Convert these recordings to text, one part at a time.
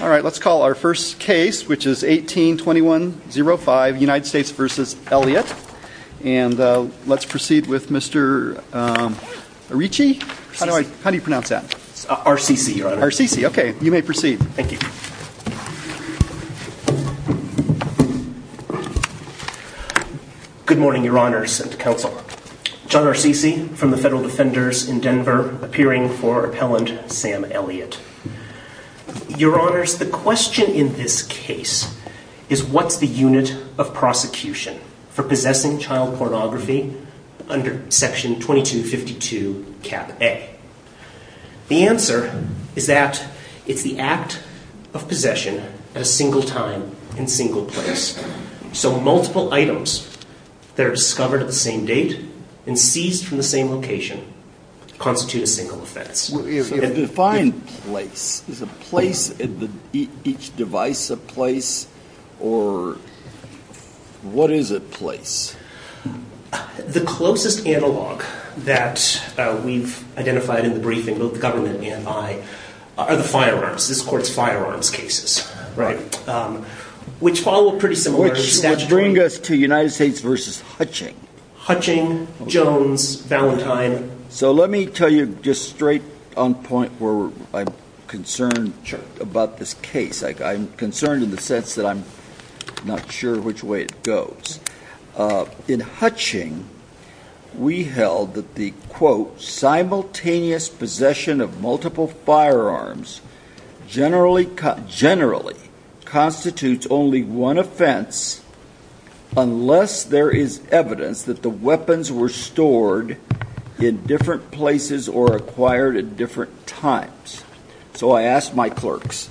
Let's call our first case, which is 18-2105, United States v. Elliott, and let's proceed with Mr. Arici? How do you pronounce that? Ar-see-see, Your Honor. Ar-see-see, okay. You may proceed. Thank you. Good morning, Your Honors and Counsel. John Ar-see-see, from the Federal Defenders in Maryland, Sam Elliott. Your Honors, the question in this case is, what's the unit of prosecution for possessing child pornography under Section 2252, Cap A? The answer is that it's the act of possession at a single time in a single place. So multiple items that are discovered at the same date and seized from the same location constitute a single offense. A defined place. Is a place at each device a place, or what is a place? The closest analog that we've identified in the briefing, both the government and I, are the firearms. This Court's firearms cases, which follow a pretty similar statutory… Which would bring us to United States v. Hutching. Hutching, Jones, Valentine. So let me tell you just straight on point where I'm concerned about this case. I'm concerned in the sense that I'm not sure which way it goes. In Hutching, we held that the, quote, simultaneous possession of multiple firearms generally constitutes only one offense unless there is evidence that the weapons were stored in different places or acquired at different times. So I asked my clerks,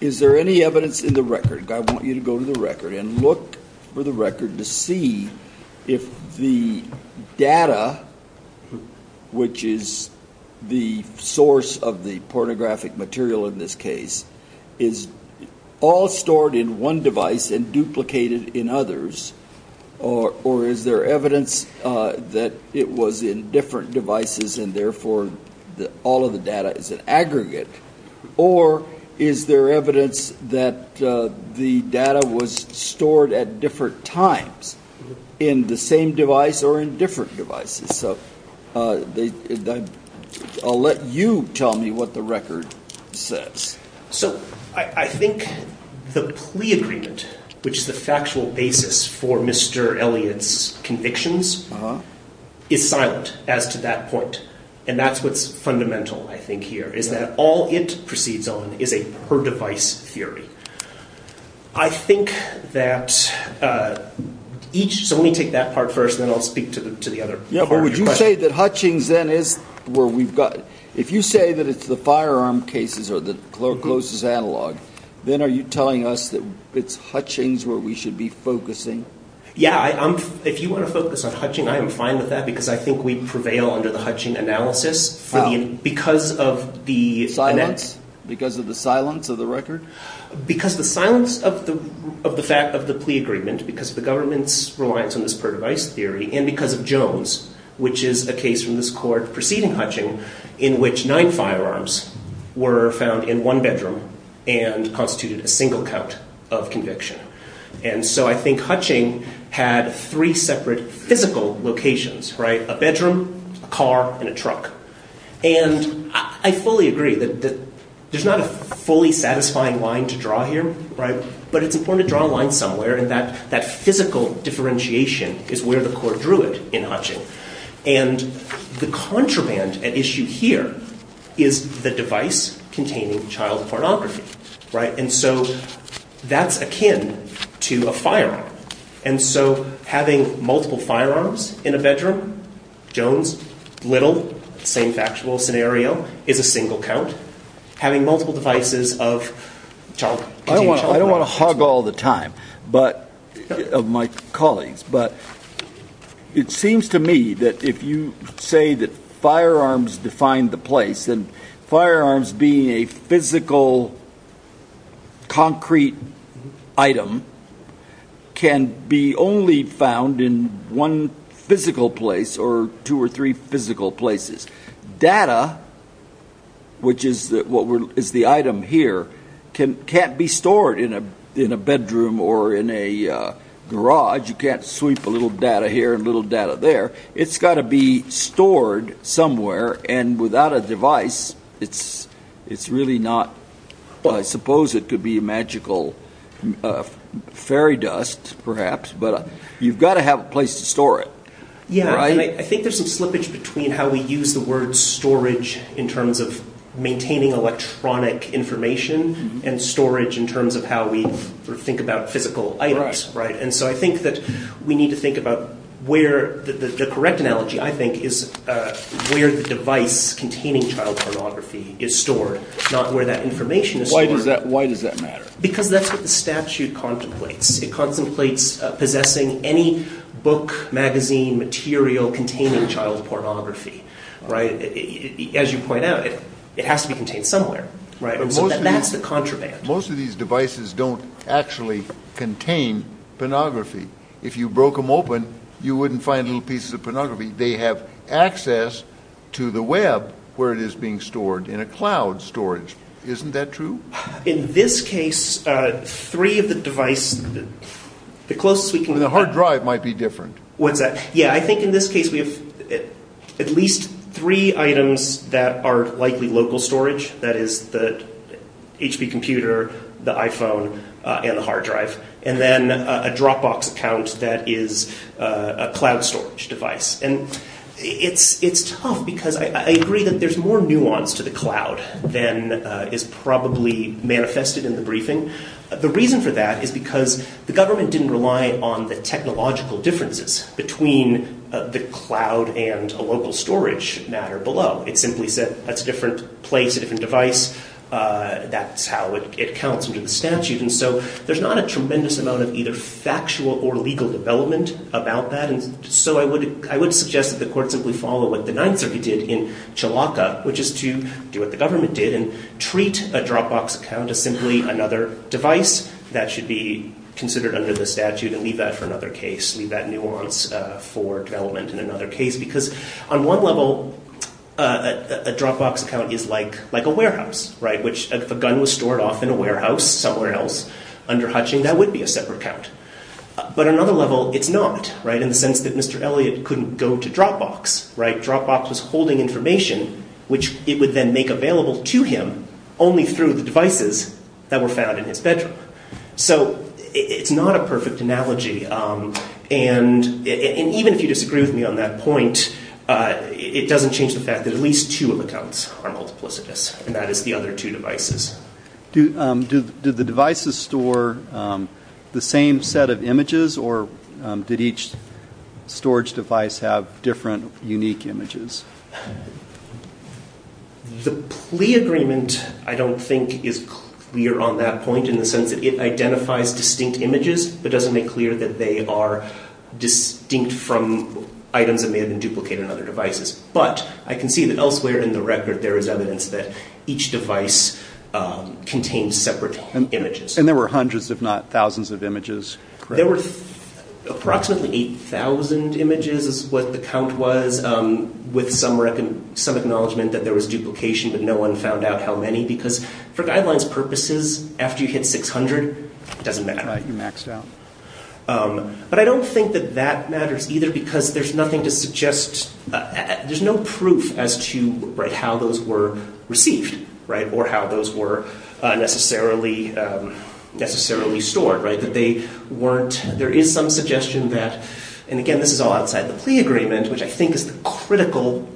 is there any evidence in the record? I want you to go to the record and look for the record to see if the data, which is the source of the pornographic material in this case, is all stored in one device and duplicated in others, or is there evidence that it was in different devices and therefore all of the data is an aggregate, or is there evidence that the data was stored at different times in the same device or in different devices? So I'll let you tell me what the record says. So I think the plea agreement, which is the factual basis for Mr. Elliott's convictions, is silent as to that point. And that's what's fundamental, I think, here, is that all it So let me take that part first, and then I'll speak to the other part of your question. Yeah, but would you say that Hutchings, then, is where we've got... If you say that it's the firearm cases or the closest analog, then are you telling us that it's Hutchings where we should be focusing? Yeah, if you want to focus on Hutchings, I am fine with that because I think we prevail under the Hutchings analysis because of the... Silence? Because of the silence of the record? Because of the silence of the fact of the plea agreement, because of the government's reliance on this per-device theory, and because of Jones, which is a case from this court preceding Hutchings, in which nine firearms were found in one bedroom and constituted a single count of conviction. And so I think Hutchings had three separate physical locations, a bedroom, a car, and a truck. And I fully agree that there's not a fully satisfying line to draw here, but it's important to draw a line somewhere, and that physical differentiation is where the court drew it in Hutchings. And the contraband at issue here is the device containing child pornography. And so that's akin to a firearm. And so having multiple firearms in a bedroom, Jones, little, same factual scenario, is a single count. Having multiple devices of child... I don't want to hog all the time of my colleagues, but it seems to me that if you say that firearms define the place, then firearms being a physical concrete item can be only found in one bedroom, one physical place, or two or three physical places. Data, which is the item here, can't be stored in a bedroom or in a garage. You can't sweep a little data here and a little data there. It's got to be stored somewhere, and without a device, it's really not... I think there's some slippage between how we use the word storage in terms of maintaining electronic information and storage in terms of how we think about physical items. And so I think that we need to think about where... The correct analogy, I think, is where the device containing child pornography is stored, not where that information is stored. Why does that matter? Because that's what the statute contemplates. It contemplates possessing any book, magazine, material containing child pornography. As you point out, it has to be contained somewhere. That's the contraband. Most of these devices don't actually contain pornography. If you broke them open, you wouldn't find little pieces of pornography. They have access to the web where it is being stored, in a cloud storage. Isn't that true? In this case, three of the device... The closest we can... The hard drive might be different. What's that? Yeah, I think in this case we have at least three items that are likely local storage. That is the HP computer, the iPhone, and the hard drive. And then a Dropbox account that is a cloud storage device. It's tough because I agree that there's more nuance to the cloud than is probably manifested in the briefing. The reason for that is because the government didn't rely on the technological differences between the cloud and a local storage matter below. It simply said, that's a different place, a different device. That's how it counts under the statute. So there's not a tremendous amount of either factual or legal development about that. So I would suggest that the court simply follow what the Ninth Circuit did in Chalaka, which is to do what the government did and treat a Dropbox account as simply another device that should be considered under the statute and leave that for another case. Leave that nuance for development in another case. Because on one level, a Dropbox account is like a warehouse. If a gun was stored off in a warehouse somewhere else under hutching, that would be a separate account. But on another level, it's not. In the sense that Mr. Elliot couldn't go to Dropbox. Dropbox was holding information, which it would then make available to him only through the devices that were found in his bedroom. So it's not a perfect analogy. And even if you disagree with me on that point, it doesn't change the fact that at least two accounts are multiplicitous, and that is the other two devices. Did the devices store the same set of images, or did each storage device have different unique images? The plea agreement, I don't think, is clear on that point in the sense that it identifies distinct images, but doesn't make clear that they are distinct from items that may have been duplicated on other devices. But I can see that elsewhere in the record there is evidence that each device contains separate images. And there were hundreds, if not thousands, of images, correct? There were approximately 8,000 images is what the count was, with some acknowledgment that there was duplication, but no one found out how many. Because for guidelines purposes, after you hit 600, it doesn't matter. Right, you maxed out. But I don't think that that matters either, because there's nothing to suggest, there's no proof as to how those were received, or how those were necessarily stored. There is some suggestion that, and again, this is all outside the plea agreement, which I think is the critical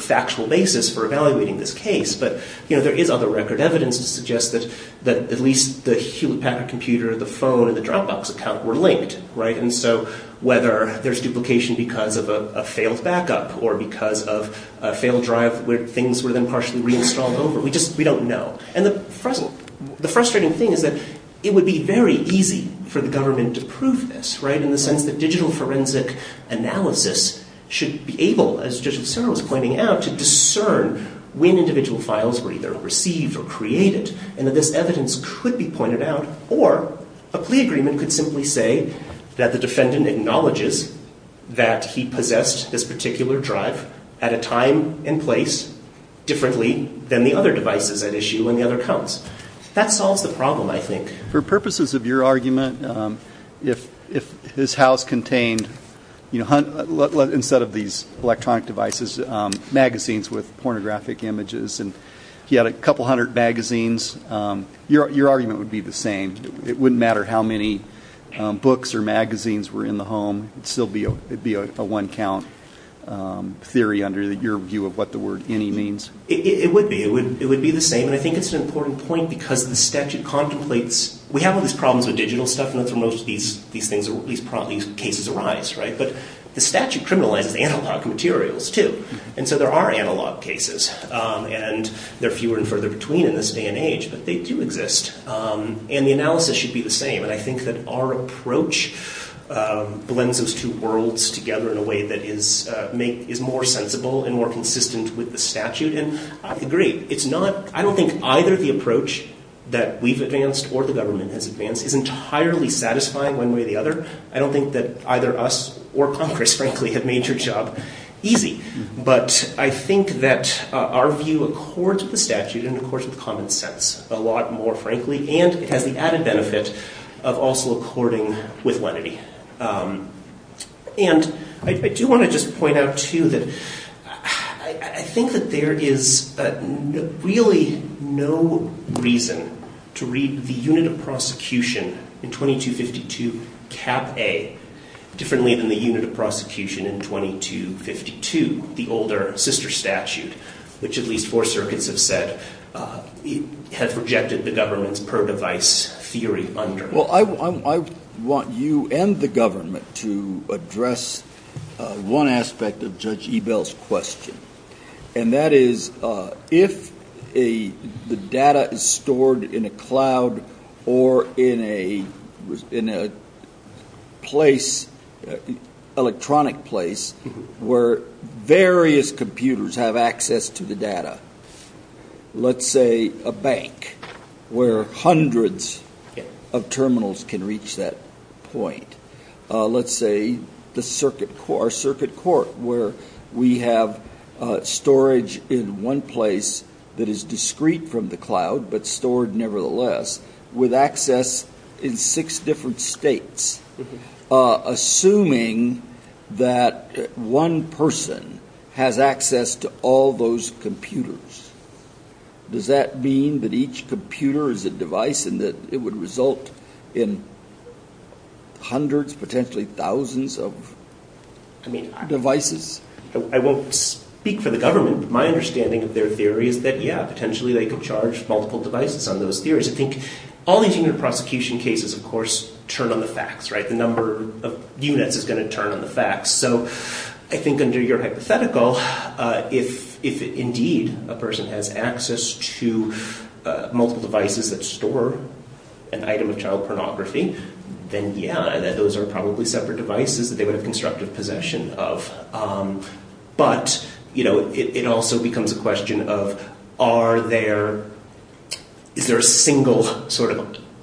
factual basis for evaluating this case, but there is other record evidence to suggest that at least the Hewlett Packard computer, the phone, and the Dropbox account were linked, and so whether there's duplication because of a failed backup, or because of a failed drive where things were then partially reinstalled over, we don't know. And the frustrating thing is that it would be very easy for the government to prove this, right, in the sense that digital forensic analysis should be able, as Judge Cicero was pointing out, to discern when individual files were either received or created, and that this evidence could be pointed out, or a plea agreement could simply say that the defendant acknowledges that he possessed this particular drive at a time and place differently than the other devices at issue and the other accounts. That solves the problem, I think. For purposes of your argument, if his house contained, instead of these electronic devices, magazines with pornographic images, and he had a couple hundred magazines, your argument would be the same. It wouldn't matter how many books or magazines were in the home. It'd still be a one-count theory under your view of what the word any means. It would be. It would be the same, and I think it's an important point because the statute contemplates, we have all these problems with digital stuff, and that's where most of these things, these cases arise, right? But the statute criminalizes analog materials, too, and so there are analog cases, and there are fewer and further between in this day and age than exist, and the analysis should be the same, and I think that our approach blends those two worlds together in a way that is more sensible and more consistent with the statute, and I agree. I don't think either the approach that we've advanced or the government has advanced is entirely satisfying one way or the other. I don't think that either us or Congress, frankly, have made your job easy, but I think that our view accords with the statute more frankly, and it has the added benefit of also according with lenity, and I do want to just point out, too, that I think that there is really no reason to read the unit of prosecution in 2252, Cap A, differently than the unit of prosecution in 2252, the governments per device theory under it. Well, I want you and the government to address one aspect of Judge Ebell's question, and that is if the data is stored in a cloud or in a place, electronic place, where various computers have access to the data, let's say a bank where hundreds of terminals can reach that point, let's say the circuit court where we have storage in one place that is discrete from the cloud but stored nevertheless with access in six different states, assuming that one person has access to all those computers, does that mean that each computer is a device and that it would result in hundreds, potentially thousands of devices? I won't speak for the government, but my understanding of their theory is that, yeah, potentially they could charge multiple devices on those theories. I think all these unit of prosecution cases, of course, turn on the facts. The number of units is going to turn on the facts. I think under your hypothetical, if indeed a person has access to multiple devices that store an item of child pornography, then yeah, those are probably separate devices that they would have constructive possession of. But it also becomes a question of, is there a single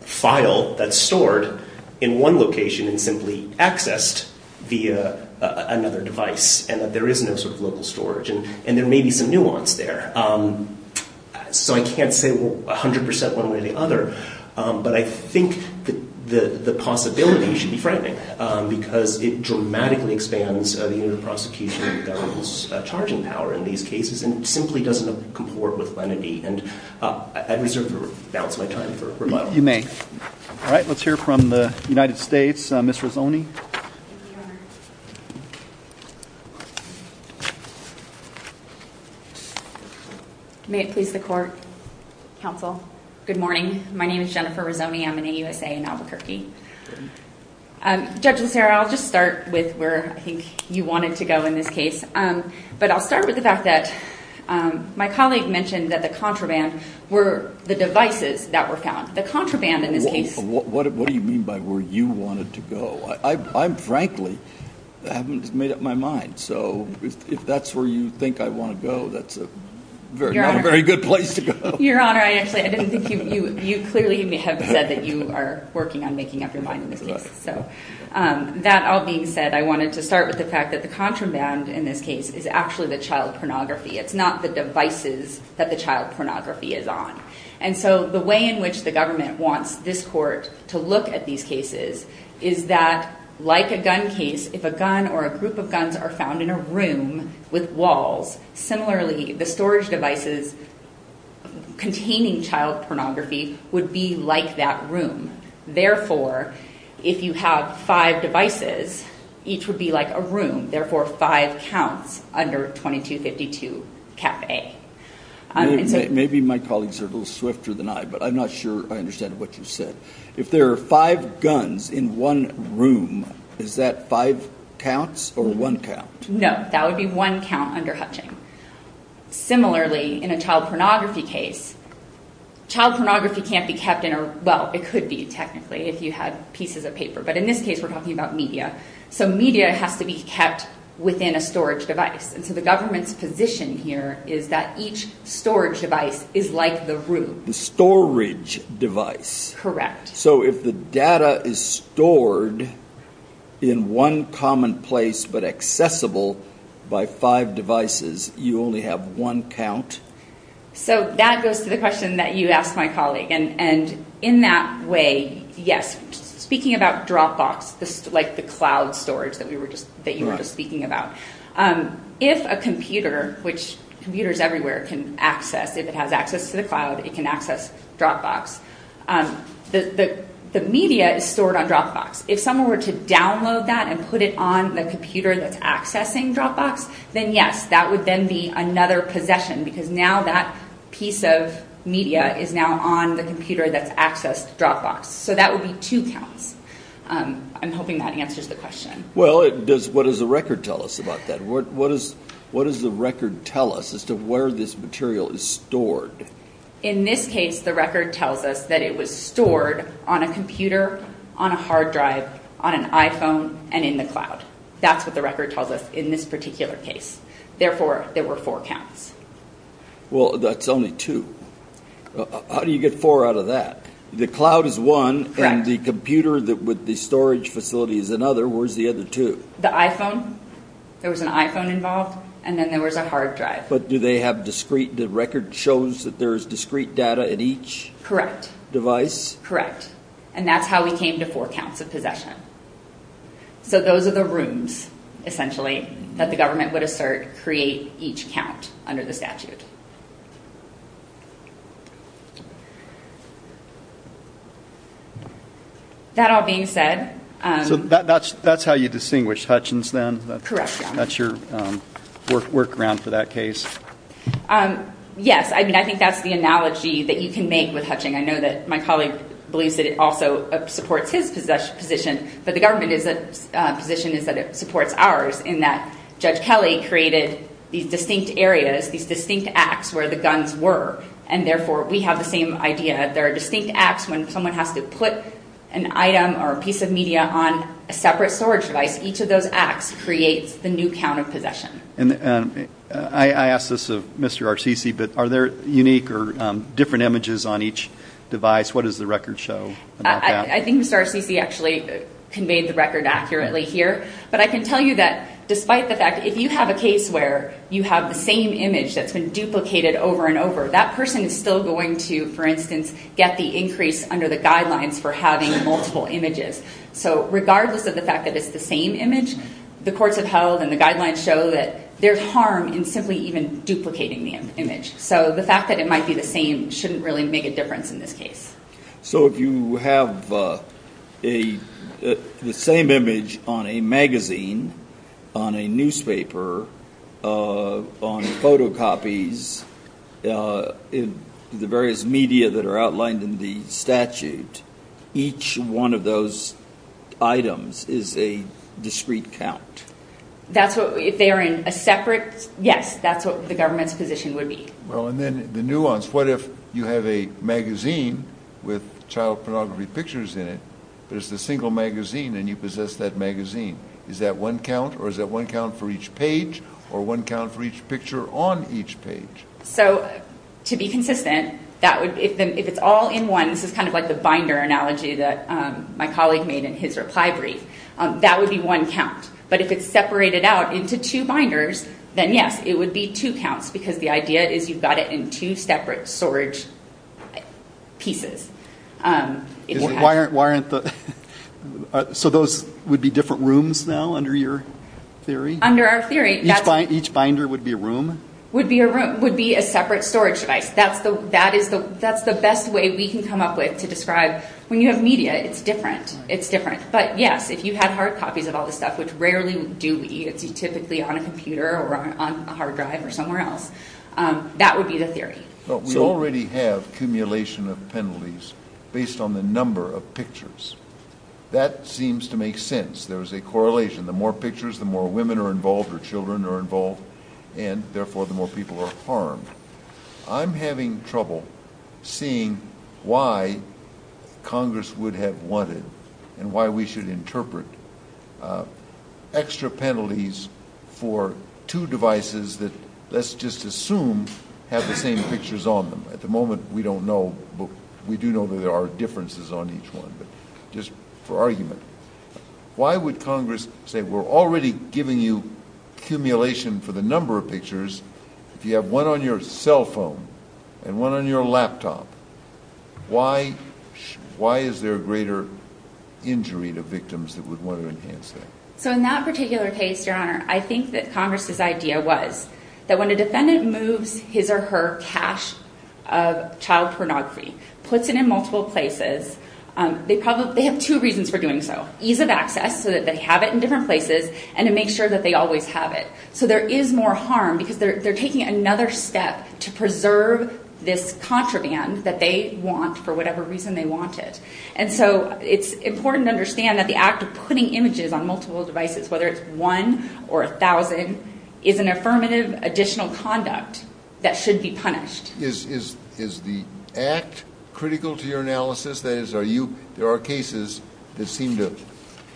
file that's stored in one location and simply accessed via another device, and that there is no local storage? There may be some nuance there. I can't say 100% one way or the other, but I think the possibility should be frightening because it dramatically expands the unit of prosecution that holds charging power in these cases and simply doesn't balance my time for remodeling. You may. All right, let's hear from the United States, Ms. Rizzoni. Thank you, Your Honor. May it please the court, counsel. Good morning. My name is Jennifer Rizzoni. I'm an AUSA in Albuquerque. Judge Lucero, I'll just start with where I think you wanted to go in this case. But I'll start with the fact that my colleague mentioned that the contraband were the devices that were found. The contraband in this case- What do you mean by where you wanted to go? I frankly haven't made up my mind. So if that's where you think I want to go, that's not a very good place to go. Your Honor, I actually, I didn't think you, you clearly may have said that you are working on making up your mind in this case. So that all being said, I wanted to start with the fact that the contraband in this case is actually the child pornography. It's not the devices that the child pornography is on. And so the way in which the government wants this court to look at these cases is that like a gun case, if a gun or a group of guns are found in a room with walls, similarly, the storage devices containing child pornography would be like that room. Therefore, if you have five devices, each would be like a room. Therefore, five counts under 2252 Cap A. Maybe my colleagues are a little swifter than I, but I'm not sure I understand what you said. If there are five guns in one room, is that five counts or one count? No, that would be one count under Hutching. Similarly, in a child pornography case, child pornography can't be kept in a, well, it could be technically if you had pieces of paper. But in this case, we're talking about media. So media has to be kept within a storage device. And so the government's position here is that each storage device is like the room. The storage device. Correct. So if the data is stored in one common place but accessible by five devices, you only have one count? So that goes to the question that you asked my colleague. And in that way, yes. Speaking about Dropbox, like the cloud storage that you were just speaking about, if a computer, which computers everywhere can access, if it has access to the cloud, it can access Dropbox. The media is stored on Dropbox. If someone were to download that and put it on the computer that's accessing Dropbox, then yes, that would then be another possession because now that piece of media is now on the computer that's accessed Dropbox. So that would be two counts. I'm hoping that answers the question. Well, what does the record tell us about that? What does the record tell us as to where this material is stored? In this case, the record tells us that it was stored on a computer, on a hard drive, on an iPhone, and in the cloud. That's what the record tells us in this particular case. Therefore, there were four counts. Well, that's only two. How do you get four out of that? The cloud is one and the computer with the storage facility is another. Where's the other two? The iPhone. There was an iPhone involved and then there was a hard drive. But do they have discrete, the record shows that there is discrete data in each device? Correct. And that's how we came to four counts of possession. So those are the rooms, essentially, that the government would assert create each count under the statute. That all being said... That's how you distinguish Hutchins then? Correct. That's your workaround for that case? Yes. I mean, I think that's the analogy that you can make with Hutchins. I know that my colleague believes that it also supports his position, but the government's position is that it supports ours in that Judge Kelly created these distinct areas, these distinct acts where the guns were. And therefore, we have the same idea. There are distinct acts when someone has to put an item or a piece of media on a separate storage device. Each of those acts creates the new count of possession. I ask this of Mr. Arcisi, but are there unique or different images on each device? What does the record show about that? I think Mr. Arcisi actually conveyed the record accurately here. But I can tell you that despite the fact, if you have a case where you have the same image that's been duplicated over and over, that person is still going to, for instance, get the increase under the guidelines for having multiple images. So regardless of the fact that it's the same image, the courts have held, and the guidelines show, that there's harm in simply even duplicating the image. So the fact that it might be the same shouldn't really make a difference in this case. So if you have the same image on a magazine, on a newspaper, on photocopies, in the various media that are outlined in the statute, each one of those items is a discrete count? That's what, if they are in a separate, yes, that's what the government's position would be. Well, and then the nuance, what if you have a magazine with child pornography pictures in it, but it's a single magazine and you possess that magazine? Is that one count or is that one count for each page or one count for each picture on each page? So to be consistent, that would, if it's all in one, this is kind of like the binder analogy that my colleague made in his reply brief, that would be one count. But if it's separated out into two binders, then yes, it would be two counts, because the idea is you've got it in two separate storage pieces. So those would be different rooms now, under your theory? Under our theory, that's... Each binder would be a room? Would be a separate storage device. That's the best way we can come up with to describe, when you have media, it's different. It's different. But yes, if you had hard copies of all this stuff, which rarely do we, it's typically on a computer or on a hard drive or somewhere else, that would be the theory. But we already have accumulation of penalties based on the number of pictures. That seems to make sense. There is a correlation. The more pictures, the more women are involved or children are involved, and therefore the more people are harmed. I'm having trouble seeing why Congress would have wanted and why we should interpret extra penalties for two devices that, let's just assume, have the same pictures on them. At the moment, we don't know, but we do know that there are differences on each one, but just for argument. Why would Congress say, we're already giving you accumulation for the number of pictures, if you have one on your cell phone and one on your laptop, why is there a greater injury to victims that would want to enhance that? So in that particular case, Your Honor, I think that Congress's idea was that when a defendant moves his or her cache of child pornography, puts it in multiple places, they have two reasons for doing so. Ease of access, so that they have it in different places, and to make sure that they always have it. So there is more harm, because they're taking another step to preserve this contraband that they want for whatever reason they want it. And so it's important to understand that the act of putting images on multiple devices, whether it's one or a thousand, is an affirmative additional conduct that should be punished. Is the act critical to your analysis? That is, are you, there are cases that seem to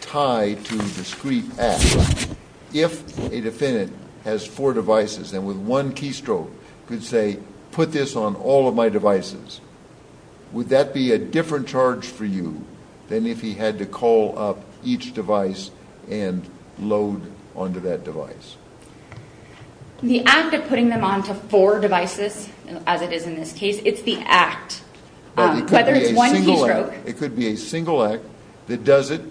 tie to discrete acts. If a defendant has four devices, and with one keystroke, could say, put this on all of my devices, would that be a different charge for you than if he had to call up each device and load onto that device? The act of putting them onto four devices, as it is in this case, it's the act. Whether it's one keystroke. It could be a single act that does it.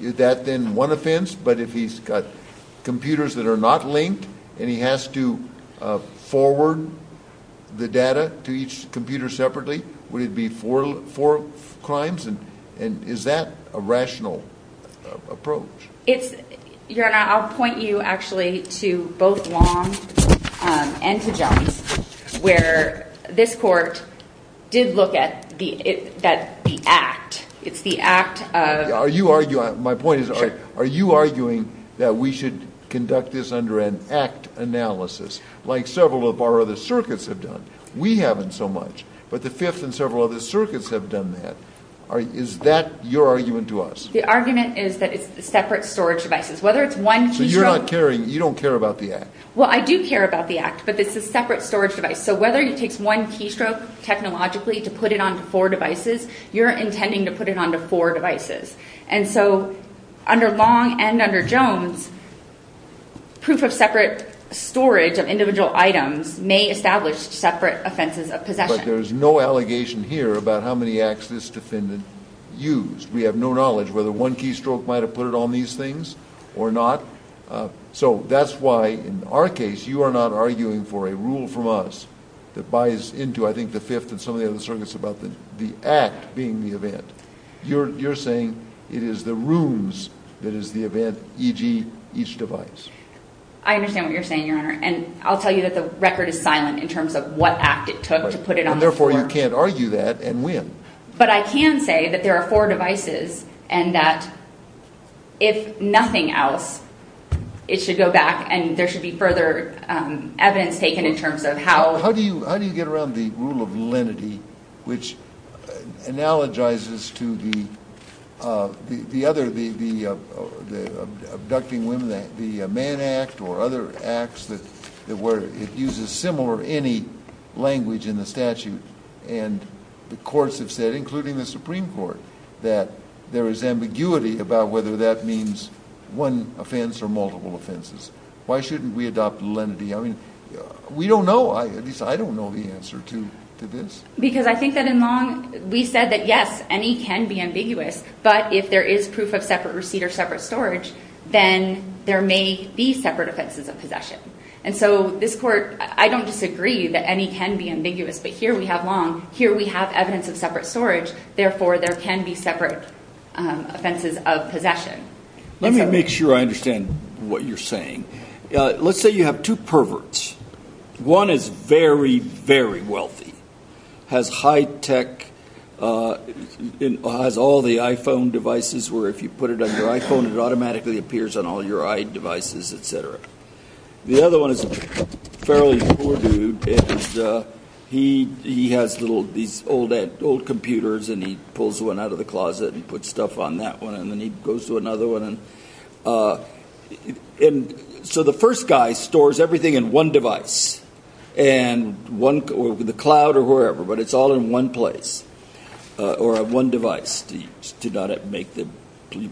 Is that then one offense? But if he's got computers that are not linked, and he has to forward the data to each computer separately, would it be four crimes? And is that a rational approach? Your Honor, I'll point you actually to both Long and to Jones, where this court did look at the act. It's the act of. My point is, are you arguing that we should conduct this under an act analysis, like several of our other circuits have done? We haven't so much, but the Fifth and several other circuits have done that. Is that your argument to us? The argument is that it's separate storage devices. Whether it's one keystroke. So you're not caring, you don't care about the act? Well, I do care about the act, but it's a separate storage device. So whether it takes one keystroke, technologically, to put it onto four devices, you're intending to put it onto four devices. And so under Long and under Jones, proof of separate storage of individual items may establish separate offenses of possession. But there's no allegation here about how many acts this defendant used. We have no knowledge whether one keystroke might have put it on these things or not. So that's why in our arguing for a rule from us that buys into, I think, the Fifth and some of the other circuits about the act being the event, you're saying it is the rules that is the event, e.g. each device. I understand what you're saying, Your Honor. And I'll tell you that the record is silent in terms of what act it took to put it on the floor. And therefore, you can't argue that and win. But I can say that there are four devices and that if nothing else, it should go back and there should be further evidence taken in terms of how... How do you get around the rule of lenity, which analogizes to the other, the abducting women, the man act or other acts that were, it uses similar, any language in the statute. And the courts have said, including the Supreme Court, that there is ambiguity about whether that means one offense or multiple offenses. Why shouldn't we adopt lenity? I mean, we don't know. At least I don't know the answer to this. Because I think that in Long, we said that, yes, any can be ambiguous. But if there is proof of separate receipt or separate storage, then there may be separate offenses of possession. And so this court, I don't disagree that any can be ambiguous. But here we have Long. Here we have evidence of separate storage. Therefore, there can be separate offenses of possession. Let me make sure I understand what you're saying. Let's say you have two perverts. One is very, very wealthy, has high tech, has all the iPhone devices where if you put it on your iPhone, it automatically appears on all your iDevices, etc. The other one is a fairly poor dude. He has little, these old computers and he pulls one out of the closet and puts stuff on that one. And then he goes to another one. And so the first guy stores everything in one device. And one, the cloud or wherever, but it's all in one place or one device to not make the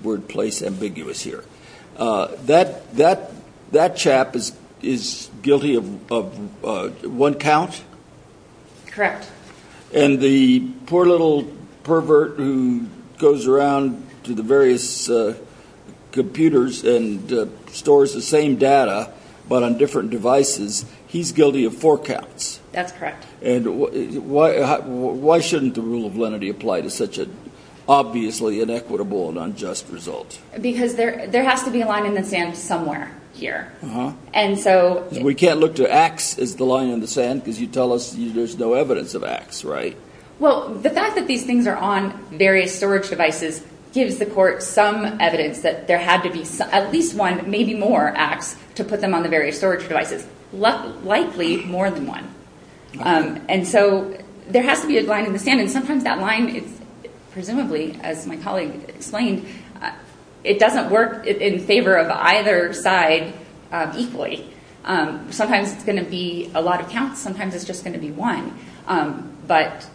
word place ambiguous here. That chap is guilty of one count? Correct. And the poor little pervert who goes around to the various computers and stores the same data, but on different devices, he's guilty of four counts. That's correct. And why shouldn't the rule of lenity apply to such an obviously inequitable and unjust result? Because there has to be a line in the sand somewhere here. We can't look to X as the line in the sand because you tell us there's no evidence of X, right? Well, the fact that these things are on various storage devices gives the court some evidence that there had to be at least one, maybe more, X to put them on the various storage devices, but there's likely more than one. And so there has to be a line in the sand. And sometimes that line is presumably, as my colleague explained, it doesn't work in favor of either side equally. Sometimes it's going to be a lot of counts. Sometimes it's just going to be one. But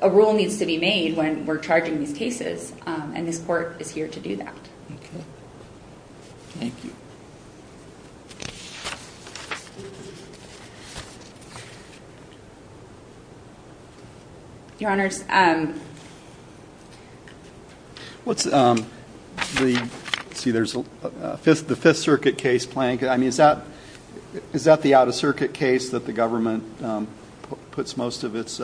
a rule needs to be made when we're charging these cases. And this court is here to do that. Okay. Thank you. Your Honors, what's the, let's see, there's the Fifth Circuit case plan. I mean, is that the out-of-circuit case that the government puts most of its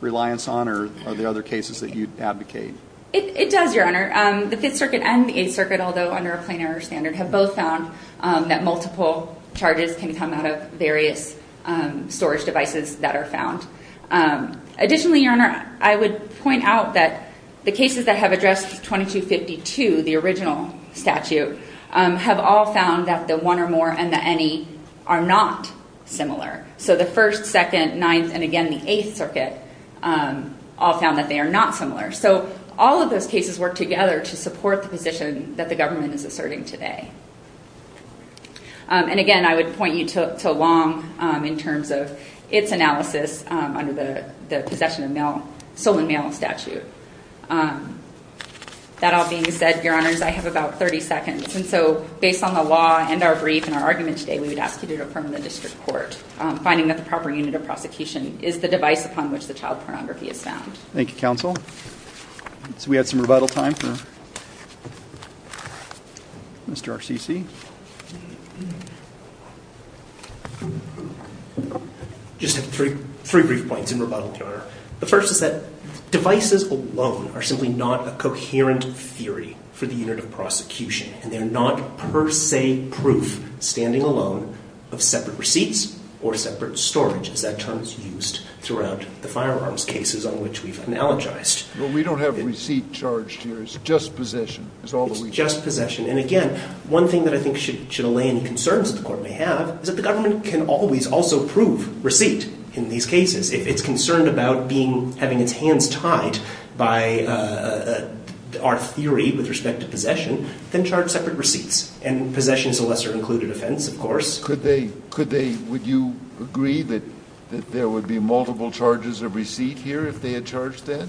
reliance on, or are there other cases that you'd advocate? It does, Your Honor. The Fifth Circuit and the Eighth Circuit, although under a plain or standard, have both found that multiple charges can come out of various storage devices that are found. Additionally, Your Honor, I would point out that the cases that have addressed 2252, the original statute, have all found that the one or more and the any are not similar. So the First, Second, Ninth, and again the Eighth Circuit all found that they are not similar. So all of those cases work together to support the position that the government is asserting today. And again, I would point you to Long in terms of its analysis under the possession of male, sole and male statute. That all being said, Your Honors, I have about 30 seconds. And so based on the law and our brief and our argument today, we would ask you to defer to the district court, finding that the proper unit of prosecution is the device upon which the child pornography is found. Thank you, Counsel. So we have some rebuttal time for Mr. RCC. I just have three brief points in rebuttal, Your Honor. The first is that devices alone are simply not a coherent theory for the unit of prosecution. And they are not per se proof standing alone of separate receipts or separate storage, as that term is used throughout the brief analogized. Well, we don't have receipt charged here. It's just possession. It's just possession. And again, one thing that I think should allay any concerns that the court may have is that the government can always also prove receipt in these cases. It's concerned about having its hands tied by our theory with respect to possession, then charge separate receipts. And possession is a lesser included offense, of course. Would you agree that there would be multiple charges of receipt here if they had charged that?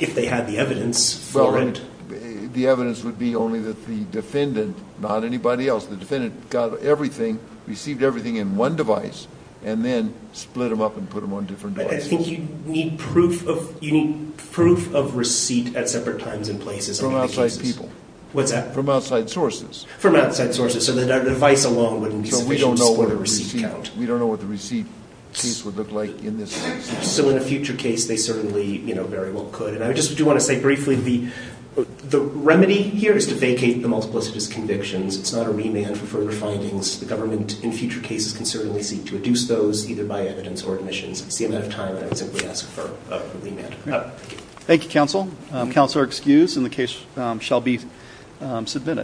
If they had the evidence for it. Well, the evidence would be only that the defendant, not anybody else, the defendant got everything, received everything in one device, and then split them up and put them on different devices. I think you need proof of receipt at separate times and places. From outside people. What's that? From outside sources. From outside sources. So the device alone wouldn't be sufficient to support a receipt count. We don't know what the receipt piece would look like in this case. So in a future case, they certainly very well could. And I just do want to say briefly, the remedy here is to vacate the multiplicitous convictions. It's not a remand for further findings. The government, in future cases, can certainly seek to reduce those, either by evidence or admissions. It's the amount of time that I would simply ask for a remand. Thank you, counsel. Counsel are excused, and the case shall be submitted.